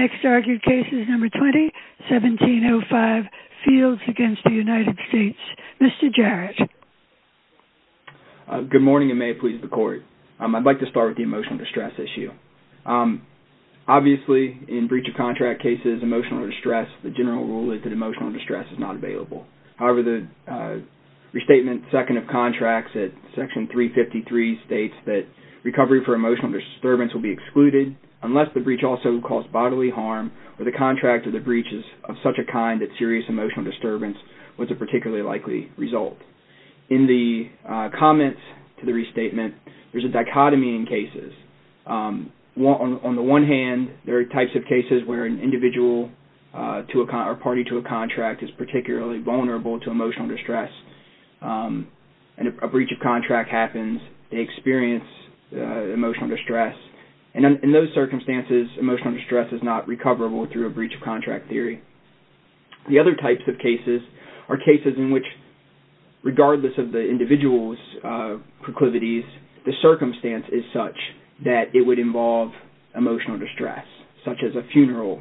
Next argued case is number 20, 1705, Fields against the United States. Mr. Jarrett. Good morning and may it please the court. I'd like to start with the emotional distress issue. Obviously, in breach of contract cases, emotional distress, the general rule is that emotional distress is not available. However, the restatement second of contracts at section 353 states that recovery for emotional disturbance will be excluded unless the breach also caused bodily harm or the contract of the breach is of such a kind that serious emotional disturbance was a particularly likely result. In the comments to the restatement, there's a dichotomy in cases. On the one hand, there are types of cases where an individual to a party to a contract is particularly vulnerable to emotional distress. A breach of contract happens, they experience emotional distress, and in those circumstances, emotional distress is not recoverable through a breach of contract theory. The other types of cases are cases in which regardless of the individual's proclivities, the circumstance is such that it would involve emotional distress, such as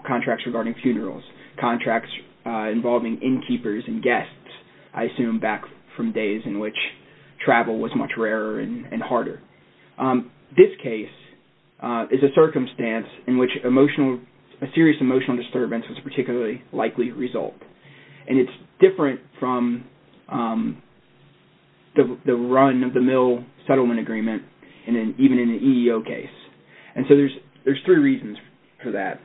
contracts regarding funerals, contracts involving innkeepers and guests, I assume back from days in which travel was much rarer and harder. This case is a circumstance in which a serious emotional disturbance was a particularly likely result, and it's different from the run of the mill settlement agreement, even in an EEO case. There's three reasons for that.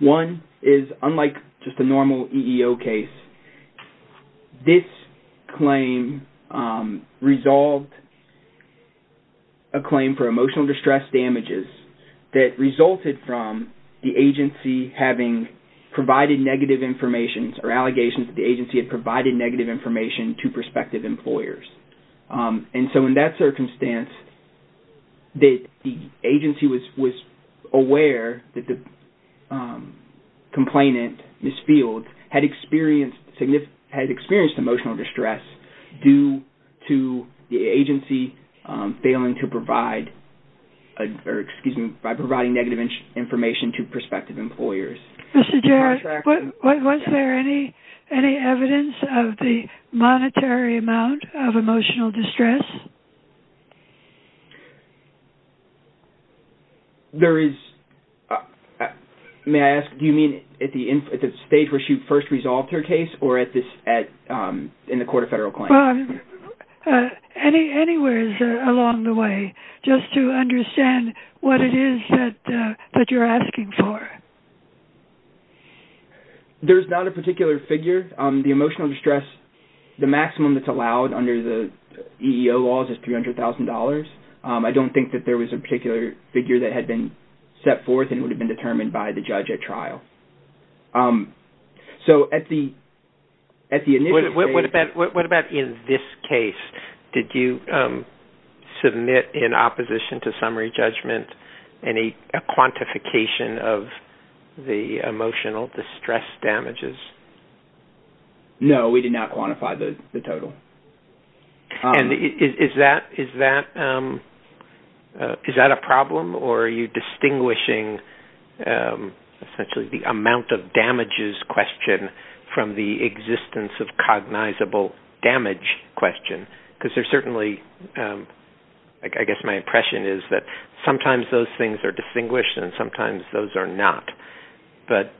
One is unlike just a normal EEO case, this claim resolved a claim for emotional distress damages that resulted from the agency having provided negative information or allegations that the agency had provided negative information to prospective employers. In that circumstance, the agency was aware that the complainant, Ms. Fields, had experienced emotional distress due to the agency failing to provide, or excuse me, by providing negative information to prospective employers. Mr. Jarrett, was there any evidence of the monetary amount of emotional distress? There is. May I ask, do you mean at the stage where she first resolved her case or in the court of federal claims? Anywhere along the way, just to understand what it is that you're asking for. There's not a particular figure. The emotional distress, the maximum that's allowed under the EEO laws is $300,000. I don't think that there was a particular figure that had been set forth and would have been determined by the judge at trial. What about in this case? Did you submit in opposition to summary judgment a quantification of the emotional distress damages? No, we did not quantify the total. Is that a problem, or are you distinguishing essentially the amount of damages question from the existence of cognizable damage question? Because there's certainly-I guess my impression is that sometimes those things are distinguished and sometimes those are not. But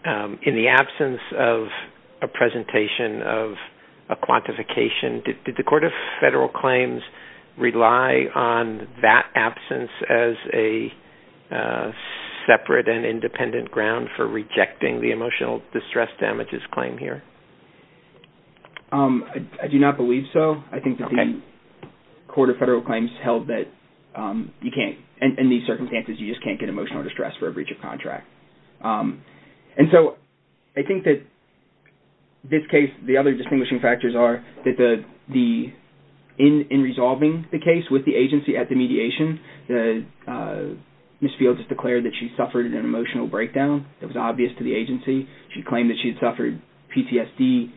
in the absence of a presentation of a quantification, did the court of federal claims rely on that absence as a separate and independent ground for rejecting the emotional distress damages claim here? I do not believe so. I think that the court of federal claims held that you can't-in these circumstances, you just can't get emotional distress for a breach of contract. And so I think that this case-the other distinguishing factors are that in resolving the case with the agency at the mediation, Ms. Fields has declared that she suffered an emotional breakdown that was obvious to the agency. She claimed that she had suffered PTSD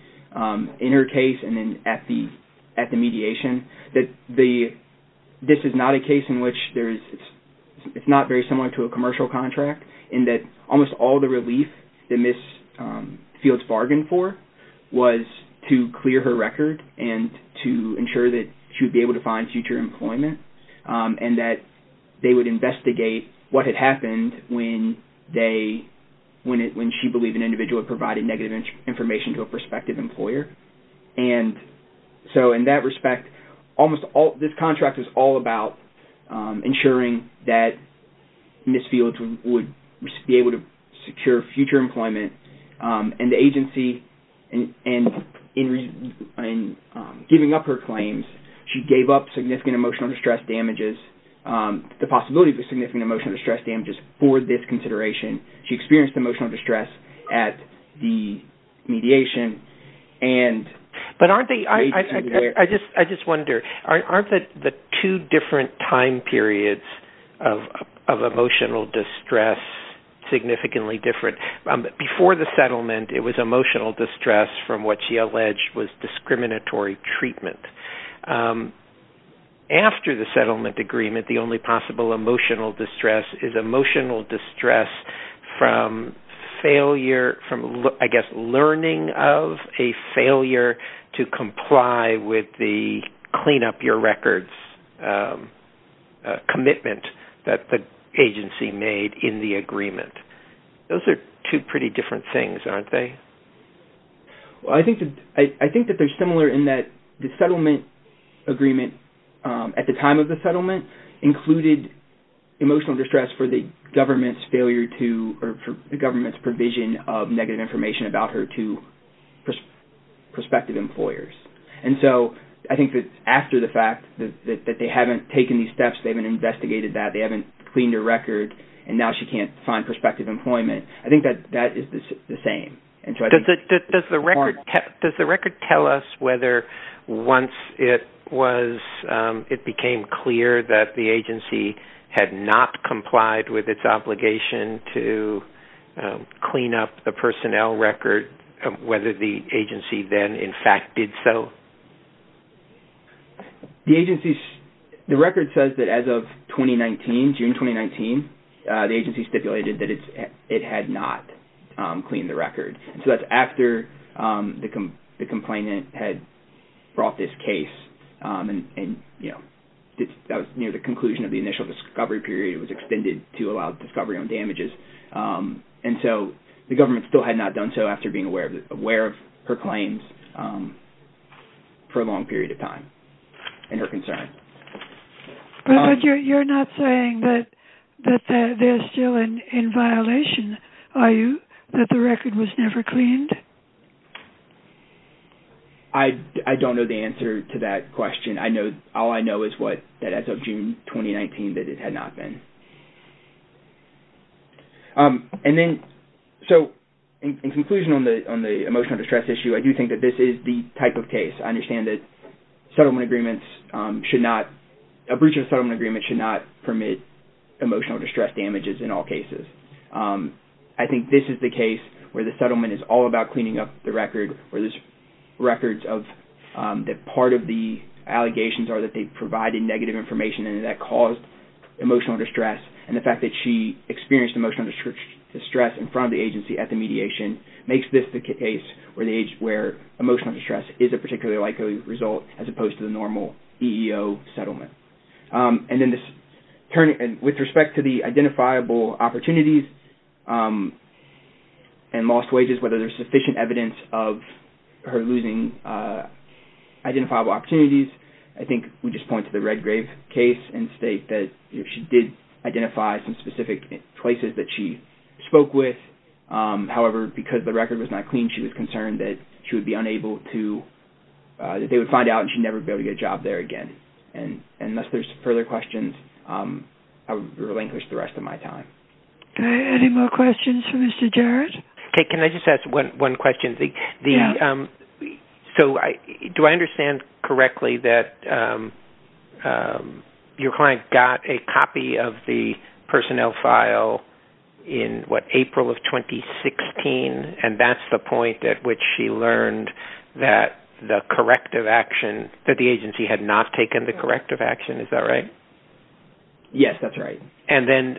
in her case and then at the mediation. This is not a case in which there is-it's not very similar to a commercial contract in that almost all the relief that Ms. Fields bargained for was to clear her record and to ensure that she would be able to find future employment and that they would investigate what had happened when she believed an individual had provided negative information to a prospective employer. And so in that respect, almost all-this contract is all about ensuring that Ms. Fields would be able to secure future employment. And the agency, in giving up her claims, she gave up significant emotional distress damages-the possibility of significant emotional distress damages for this consideration. She experienced emotional distress at the mediation and- But aren't they-I just wonder, aren't the two different time periods of emotional distress significantly different? Before the settlement, it was emotional distress from what she alleged was discriminatory treatment. After the settlement agreement, the only possible emotional distress is emotional distress from failure-I guess learning of a failure to comply with the clean up your records commitment that the agency made in the agreement. Those are two pretty different things, aren't they? Well, I think that they're similar in that the settlement agreement at the time of the settlement included emotional distress for the government's failure to-or for the government's provision of negative information about her to prospective employers. And so I think that after the fact that they haven't taken these steps, they haven't investigated that, they haven't cleaned her record, and now she can't find prospective employment, I think that that is the same. Does the record tell us whether once it was-it became clear that the agency had not complied with its obligation to clean up the personnel record, whether the agency then in fact did so? The agency's-the record says that as of 2019, June 2019, the agency stipulated that it had not cleaned the record. So that's after the complainant had brought this case and, you know, that was near the conclusion of the initial discovery period. It was extended to allow discovery on damages. And so the government still had not done so after being aware of her claims for a long period of time and her concerns. But you're not saying that they're still in violation, are you, that the record was never cleaned? I don't know the answer to that question. I know-all I know is what-that as of June 2019, that it had not been. And then-so in conclusion on the emotional distress issue, I do think that this is the type of case. I understand that settlement agreements should not-a breach of a settlement agreement should not permit emotional distress damages in all cases. I think this is the case where the settlement is all about cleaning up the record, where there's records of-that part of the allegations are that they provided negative information and that caused emotional distress. And the fact that she experienced emotional distress in front of the agency at the mediation makes this the case where emotional distress is a particularly likely result as opposed to the normal EEO settlement. And then this-with respect to the identifiable opportunities and lost wages, whether there's sufficient evidence of her losing identifiable opportunities, I think we just point to the Red Grave case and state that she did identify some specific places that she spoke with. However, because the record was not cleaned, she was concerned that she would be unable to-that they would find out and she'd never be able to get a job there again. And unless there's further questions, I would relinquish the rest of my time. Any more questions for Mr. Jarrett? Can I just ask one question? Yes. So do I understand correctly that your client got a copy of the personnel file in, what, April of 2016? And that's the point at which she learned that the corrective action-that the agency had not taken the corrective action. Is that right? Yes, that's right. And then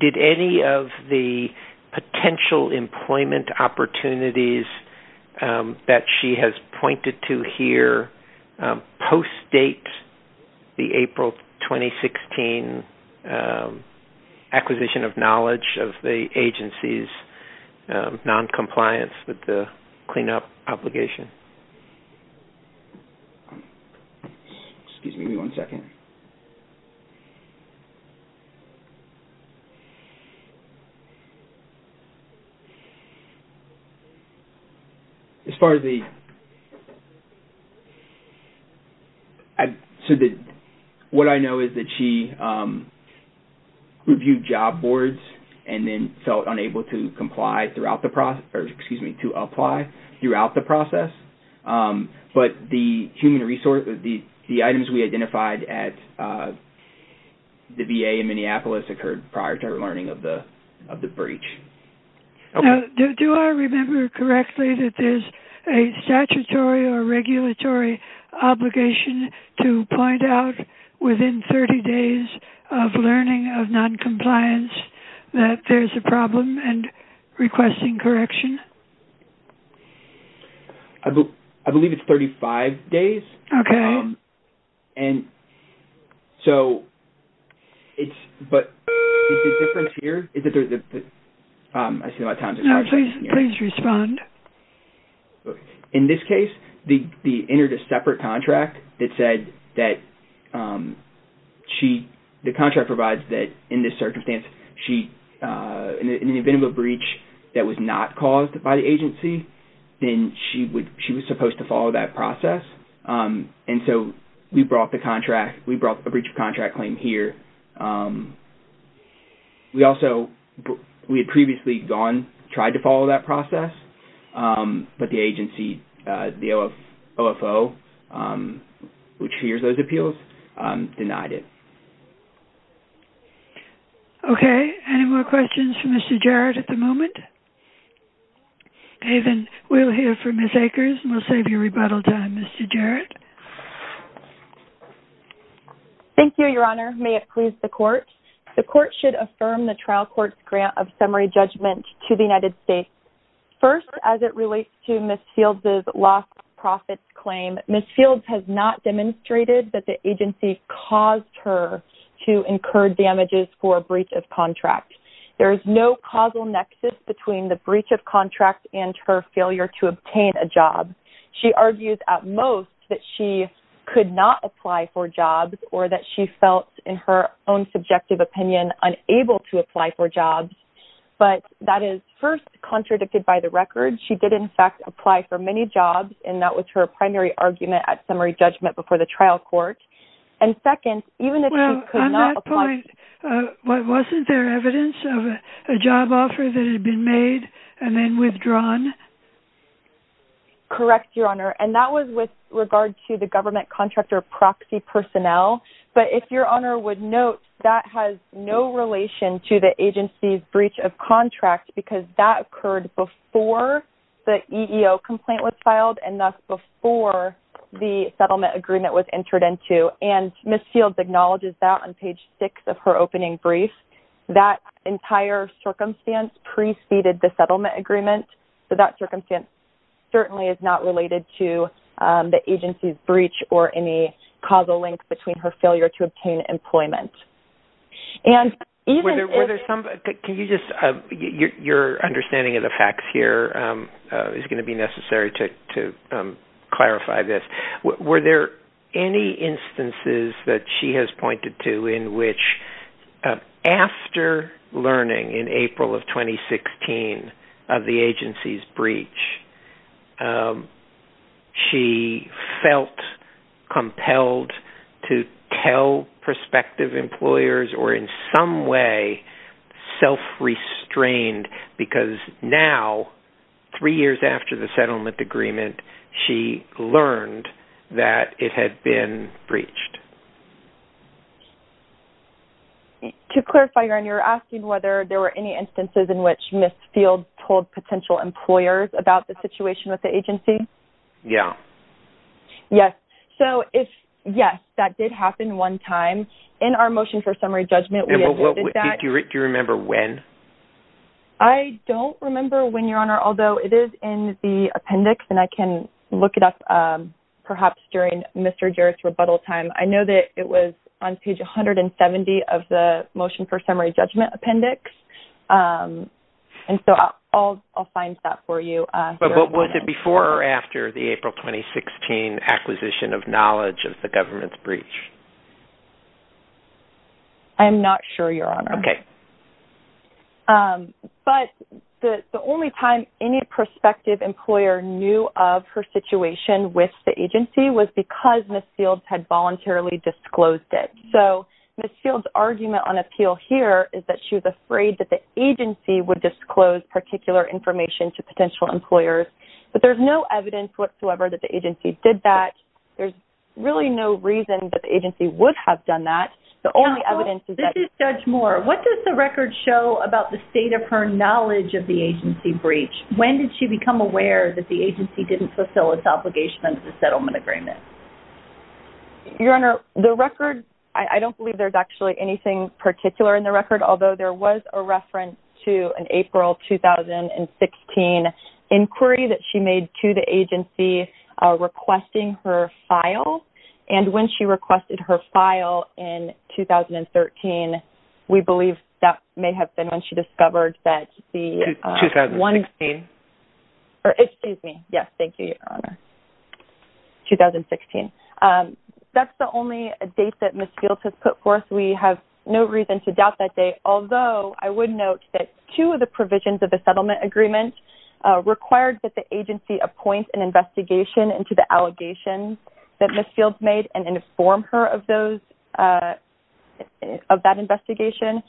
did any of the potential employment opportunities that she has pointed to here post-date the April 2016 acquisition of knowledge of the agency's noncompliance with the cleanup obligation? Excuse me one second. As far as the-so what I know is that she reviewed job boards and then felt unable to comply throughout the process-excuse me, to apply throughout the process. But the human resource-the items we identified at the VA in Minneapolis occurred prior to her learning of the breach. Do I remember correctly that there's a statutory or regulatory obligation to point out within 30 days of learning of noncompliance that there's a problem and requesting correction? I believe it's 35 days. Okay. And so it's-but the difference here is that there's a-I see a lot of times it's hard to hear. No, please respond. Okay. In this case, the-entered a separate contract that said that she-the contract provides that in this circumstance she-in the event of a breach that was not caused by the agency, then she would-she was supposed to follow that process. And so we brought the contract-we brought a breach of contract claim here. We also-we had previously gone-tried to follow that process, but the agency-the OFO, which hears those appeals, denied it. Okay. Any more questions for Mr. Jarrett at the moment? Okay, then we'll hear from Ms. Akers, and we'll save you rebuttal time, Mr. Jarrett. Thank you, Your Honor. May it please the Court? The Court should affirm the trial court's grant of summary judgment to the United States. First, as it relates to Ms. Fields' lost profits claim, Ms. Fields has not demonstrated that the agency caused her to incur damages for a breach of contract. There is no causal nexus between the breach of contract and her failure to obtain a job. She argues, at most, that she could not apply for jobs or that she felt, in her own subjective opinion, unable to apply for jobs. But that is, first, contradicted by the record. She did, in fact, apply for many jobs, and that was her primary argument at summary judgment before the trial court. And, second, even if she could not apply- Well, on that point, wasn't there evidence of a job offer that had been made and then withdrawn? Correct, Your Honor. And that was with regard to the government contractor proxy personnel. But if Your Honor would note, that has no relation to the agency's breach of contract because that occurred before the EEO complaint was filed, and thus before the settlement agreement was entered into. And Ms. Fields acknowledges that on page 6 of her opening brief. That entire circumstance preceded the settlement agreement. So that circumstance certainly is not related to the agency's breach or any causal link between her failure to obtain employment. And even if- Were there some- Can you just- Your understanding of the facts here is going to be necessary to clarify this. Were there any instances that she has pointed to in which, after learning in April of 2016 of the agency's breach, she felt compelled to tell prospective employers or in some way self-restrained? Because now, three years after the settlement agreement, she learned that it had been breached. To clarify, Your Honor, you're asking whether there were any instances in which Ms. Fields told potential employers about the situation with the agency? Yeah. Yes. So if- Yes, that did happen one time. In our motion for summary judgment- Do you remember when? I don't remember when, Your Honor, although it is in the appendix and I can look it up perhaps during Mr. Jarrett's rebuttal time. I know that it was on page 170 of the motion for summary judgment appendix. And so I'll find that for you. But was it before or after the April 2016 acquisition of knowledge of the government's breach? I'm not sure, Your Honor. Okay. But the only time any prospective employer knew of her situation with the agency was because Ms. Fields had voluntarily disclosed it. So Ms. Fields' argument on appeal here is that she was afraid that the agency would disclose particular information to potential employers. But there's no evidence whatsoever that the agency did that. There's really no reason that the agency would have done that. The only evidence is that- What does the record show about the state of her knowledge of the agency breach? When did she become aware that the agency didn't fulfill its obligation under the settlement agreement? Your Honor, the record- I don't believe there's actually anything particular in the record, although there was a reference to an April 2016 inquiry that she made to the agency requesting her file. And when she requested her file in 2013, we believe that may have been when she discovered that the- 2016. Excuse me. Yes, thank you, Your Honor. 2016. That's the only date that Ms. Fields has put forth. We have no reason to doubt that date. Ms. Fields made and informed her of that investigation.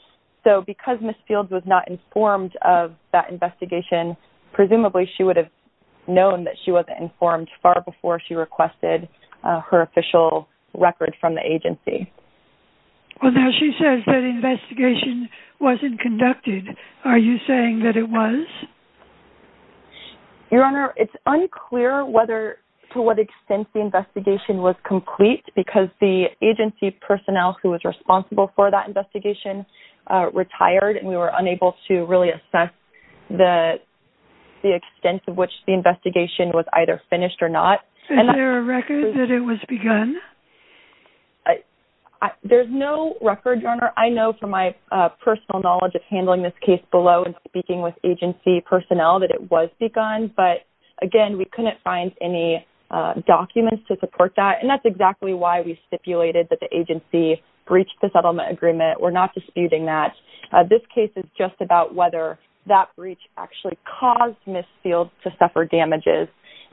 So because Ms. Fields was not informed of that investigation, presumably she would have known that she wasn't informed far before she requested her official record from the agency. Well, now she says that investigation wasn't conducted. Are you saying that it was? Your Honor, it's unclear to what extent the investigation was complete, because the agency personnel who was responsible for that investigation retired, and we were unable to really assess the extent to which the investigation was either finished or not. Is there a record that it was begun? There's no record, Your Honor. I know from my personal knowledge of handling this case below and speaking with agency personnel that it was begun, but again, we couldn't find any documents to support that. And that's exactly why we stipulated that the agency breached the settlement agreement. We're not disputing that. This case is just about whether that breach actually caused Ms. Fields to suffer damages.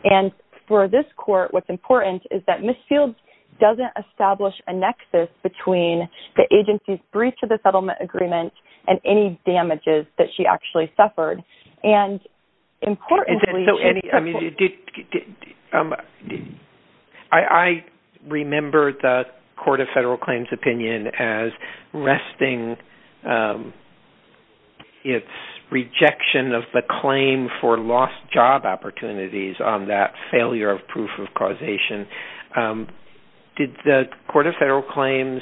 And for this court, what's important is that Ms. Fields doesn't establish a nexus between the agency's breach of the settlement agreement and any damages that she actually suffered. I remember the Court of Federal Claims' opinion as resting its rejection of the claim for lost job opportunities on that failure of proof of causation. Did the Court of Federal Claims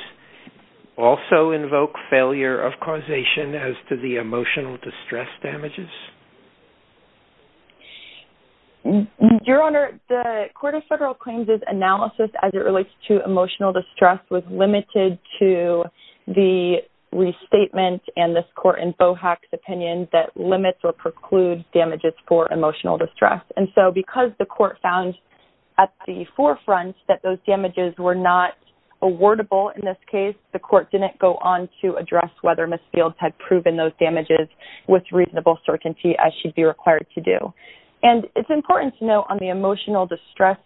also invoke failure of causation as to the emotional distress damages? Your Honor, the Court of Federal Claims' analysis as it relates to emotional distress was limited to the restatement and this court in Bohack's opinion that limits or precludes damages for emotional distress. And so because the court found at the forefront that those damages were not awardable in this case, the court didn't go on to address whether Ms. Fields had proven those damages with reasonable certainty as she'd be required to do. And it's important to note on the emotional distress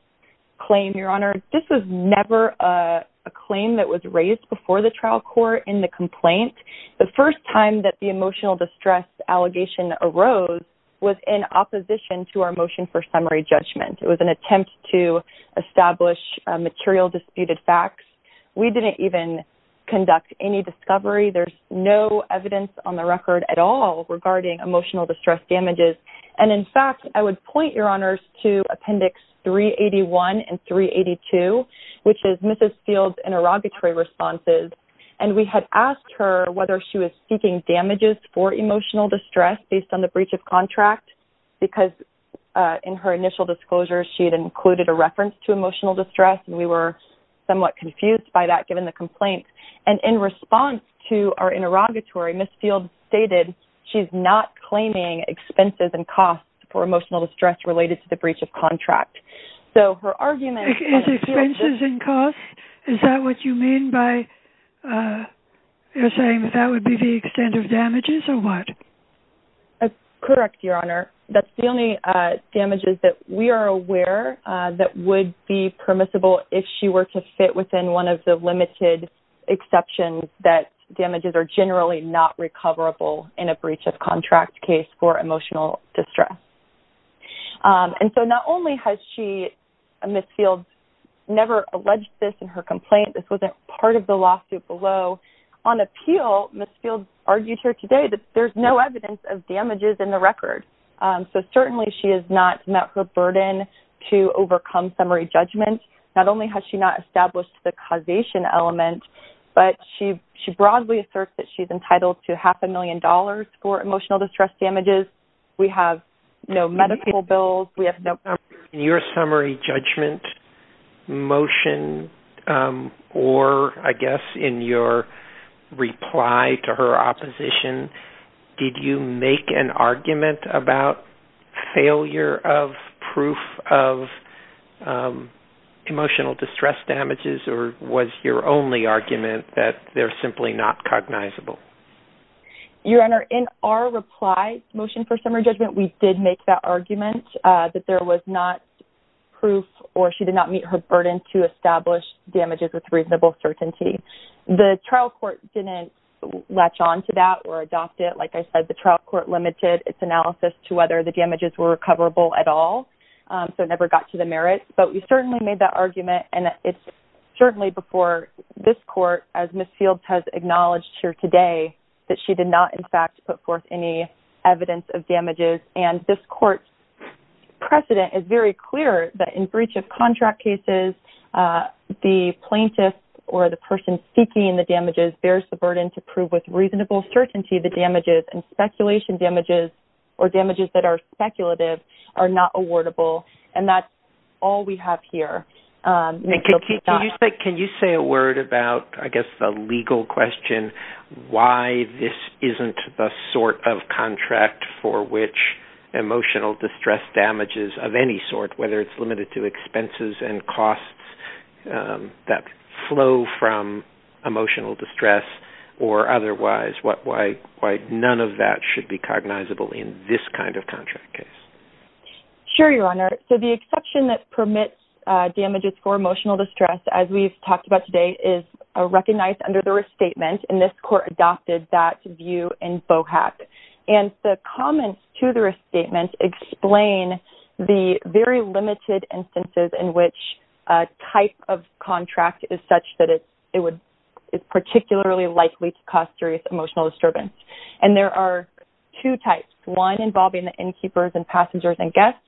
claim, Your Honor, this was never a claim that was raised before the trial court in the complaint. The first time that the emotional distress allegation arose was in opposition to our motion for summary judgment. It was an attempt to establish material disputed facts. We didn't even conduct any discovery. There's no evidence on the record at all regarding emotional distress damages. And in fact, I would point, Your Honors, to Appendix 381 and 382, which is Mrs. Fields' interrogatory responses. And we had asked her whether she was seeking damages for emotional distress based on the breach of contract because in her initial disclosure, she had included a reference to emotional distress. And we were somewhat confused by that given the complaint. And in response to our interrogatory, Ms. Fields stated she's not claiming expenses and costs for emotional distress related to the breach of contract. So her argument... Is expenses and costs? Is that what you mean by you're saying that that would be the extent of damages or what? Correct, Your Honor. That's the only damages that we are aware that would be permissible if she were to fit within one of the limited exceptions that damages are generally not recoverable in a breach of contract case for emotional distress. And so not only has she, Ms. Fields, never alleged this in her complaint, this wasn't part of the lawsuit below. On appeal, Ms. Fields argued here today that there's no evidence of damages in the record. So certainly she has not met her burden to overcome summary judgment. Not only has she not established the causation element, but she broadly asserts that she's entitled to half a million dollars for emotional distress damages. We have no medical bills. In your summary judgment motion or I guess in your reply to her opposition, did you make an argument about failure of proof of emotional distress damages or was your only argument that they're simply not cognizable? Your Honor, in our reply motion for summary judgment, we did make that argument that there was not proof or she did not meet her burden to establish damages with reasonable certainty. The trial court didn't latch on to that or adopt it. Like I said, the trial court limited its analysis to whether the damages were recoverable at all. So it never got to the merits. But we certainly made that argument and it's certainly before this court, as Ms. Fields has acknowledged here today, that she did not in fact put forth any evidence of damages. And this court's precedent is very clear that in breach of contract cases, the plaintiff or the person seeking the damages bears the burden to prove with reasonable certainty the damages and speculation damages or damages that are speculative are not awardable. And that's all we have here. Can you say a word about, I guess, the legal question, why this isn't the sort of contract for which emotional distress damages of any sort, whether it's limited to expenses and costs that flow from emotional distress or otherwise, why none of that should be cognizable in this kind of contract case? Sure, Your Honor. So the exception that permits damages for emotional distress, as we've talked about today, is recognized under the restatement. And this court adopted that view in BOHAC. And the comments to the restatement explain the very limited instances in which a type of contract is such that it is particularly likely to cause serious emotional disturbance. And there are two types. One involving the innkeepers and passengers and guests.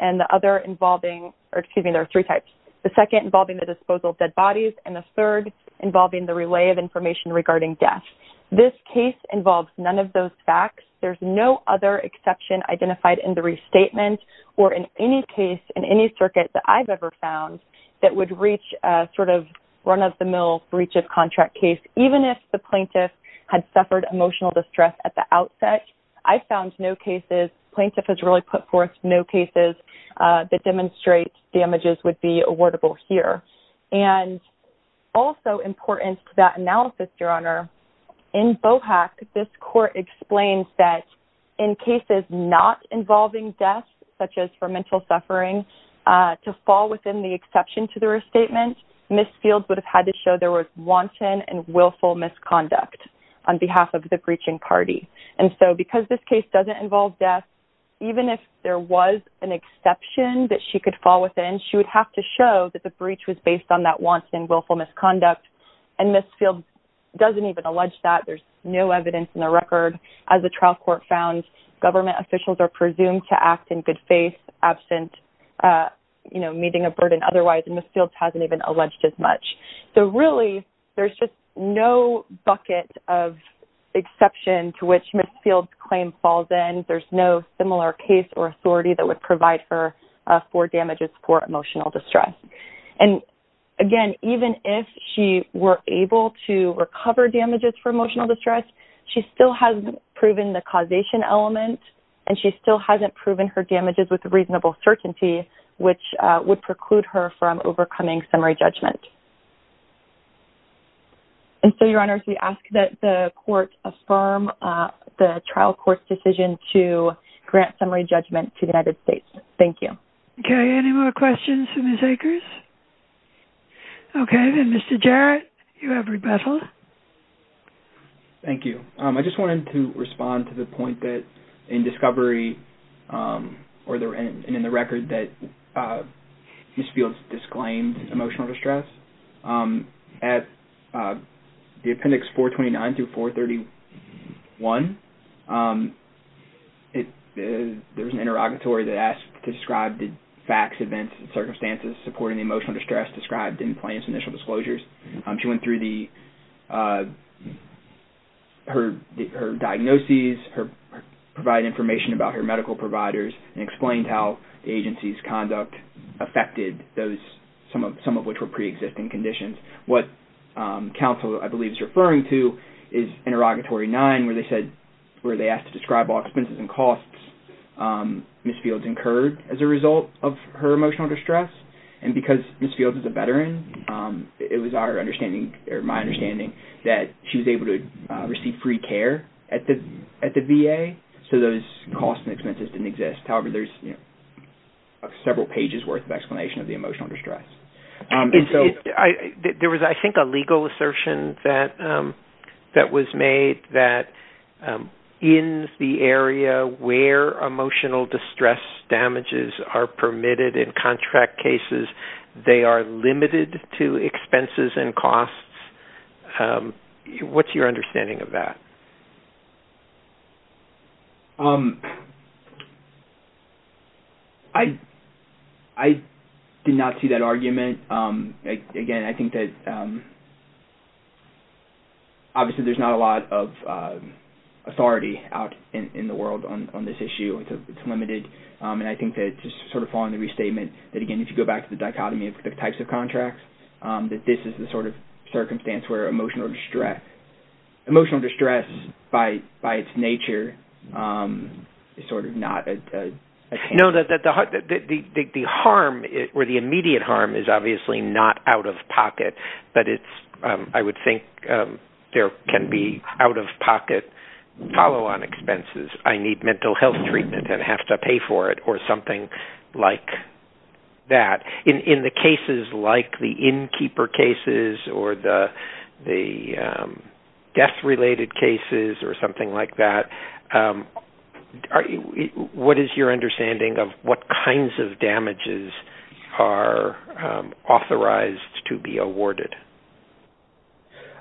And the other involving, or excuse me, there are three types. The second involving the disposal of dead bodies. And the third involving the relay of information regarding death. This case involves none of those facts. There's no other exception identified in the restatement or in any case in any circuit that I've ever found that would reach a sort of run-of-the-mill breach of contract case, even if the plaintiff had suffered emotional distress at the outset. I found no cases, plaintiff has really put forth no cases that demonstrate damages would be awardable here. And also important to that analysis, Your Honor, in BOHAC, this court explains that in cases not involving death, such as for mental suffering, to fall within the exception to the restatement, Ms. Fields would have had to show there was wanton and willful misconduct on behalf of the breaching party. And so because this case doesn't involve death, even if there was an exception that she could fall within, she would have to show that the breach was based on that wanton and willful misconduct. And Ms. Fields doesn't even allege that. There's no evidence in the record. As the trial court found, government officials are presumed to act in good faith, absent, you know, meeting a burden otherwise. And Ms. Fields hasn't even alleged as much. So really, there's just no bucket of exception to which Ms. Fields' claim falls in. There's no similar case or authority that would provide her for damages for emotional distress. And again, even if she were able to recover damages for emotional distress, she still hasn't proven the causation element, and she still hasn't proven her damages with reasonable certainty, which would preclude her from overcoming summary judgment. And so, Your Honor, we ask that the court affirm the trial court's decision to grant summary judgment to the United States. Thank you. Okay, any more questions for Ms. Akers? Okay, then, Mr. Jarrett, you have rebuttal. Thank you. I just wanted to respond to the point that in discovery or in the record that Ms. Fields disclaimed emotional distress. At the appendix 429 through 431, there was an interrogatory that asked to describe the facts, events, and circumstances supporting the emotional distress described in Plaintiff's initial disclosures. She went through her diagnoses, provided information about her medical providers, and explained how the agency's conduct affected some of which were preexisting conditions. What counsel, I believe, is referring to is interrogatory 9, where they asked to describe all expenses and costs Ms. Fields incurred as a result of her emotional distress. And because Ms. Fields is a veteran, it was my understanding that she was able to receive free care at the VA, so those costs and expenses didn't exist. However, there's several pages' worth of explanation of the emotional distress. There was, I think, a legal assertion that was made that in the area where emotional distress damages are permitted in contract cases, they are limited to expenses and costs. What's your understanding of that? I did not see that argument. Again, I think that obviously there's not a lot of authority out in the world on this issue. It's limited, and I think that just sort of following the restatement that, again, if you go back to the dichotomy of the types of contracts, that this is the sort of circumstance where emotional distress is permitted. And just by its nature, it's sort of not. No, the immediate harm is obviously not out of pocket, but I would think there can be out-of-pocket follow-on expenses. I need mental health treatment and have to pay for it or something like that. In the cases like the innkeeper cases or the death-related cases or something like that, what is your understanding of what kinds of damages are authorized to be awarded?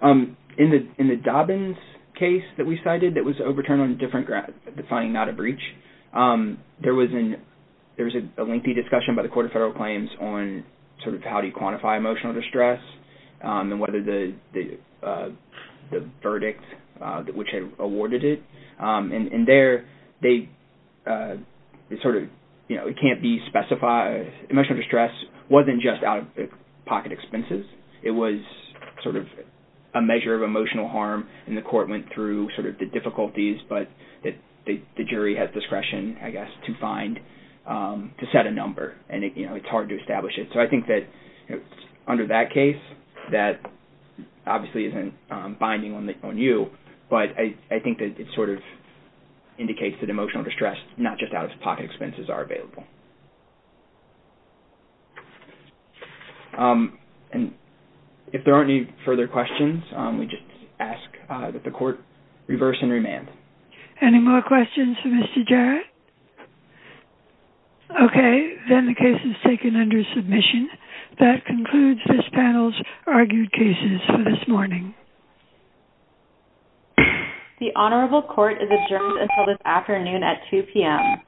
In the Dobbins case that we cited that was overturned on a different ground, defining not a breach, there was a lengthy discussion by the Court of Federal Claims on sort of how do you quantify emotional distress and whether the verdict which had awarded it. And there, it can't be specified. Emotional distress wasn't just out-of-pocket expenses. It was sort of a measure of emotional harm, and the court went through sort of the difficulties, but the jury had discretion, I guess, to find, to set a number, and it's hard to establish it. So I think that under that case, that obviously isn't binding on you, but I think that it sort of indicates that emotional distress is not just out-of-pocket expenses are available. If there aren't any further questions, we just ask that the court reverse and remand. Any more questions for Mr. Jarrett? Okay, then the case is taken under submission. That concludes this panel's argued cases for this morning. The Honorable Court is adjourned until this afternoon at 2 p.m.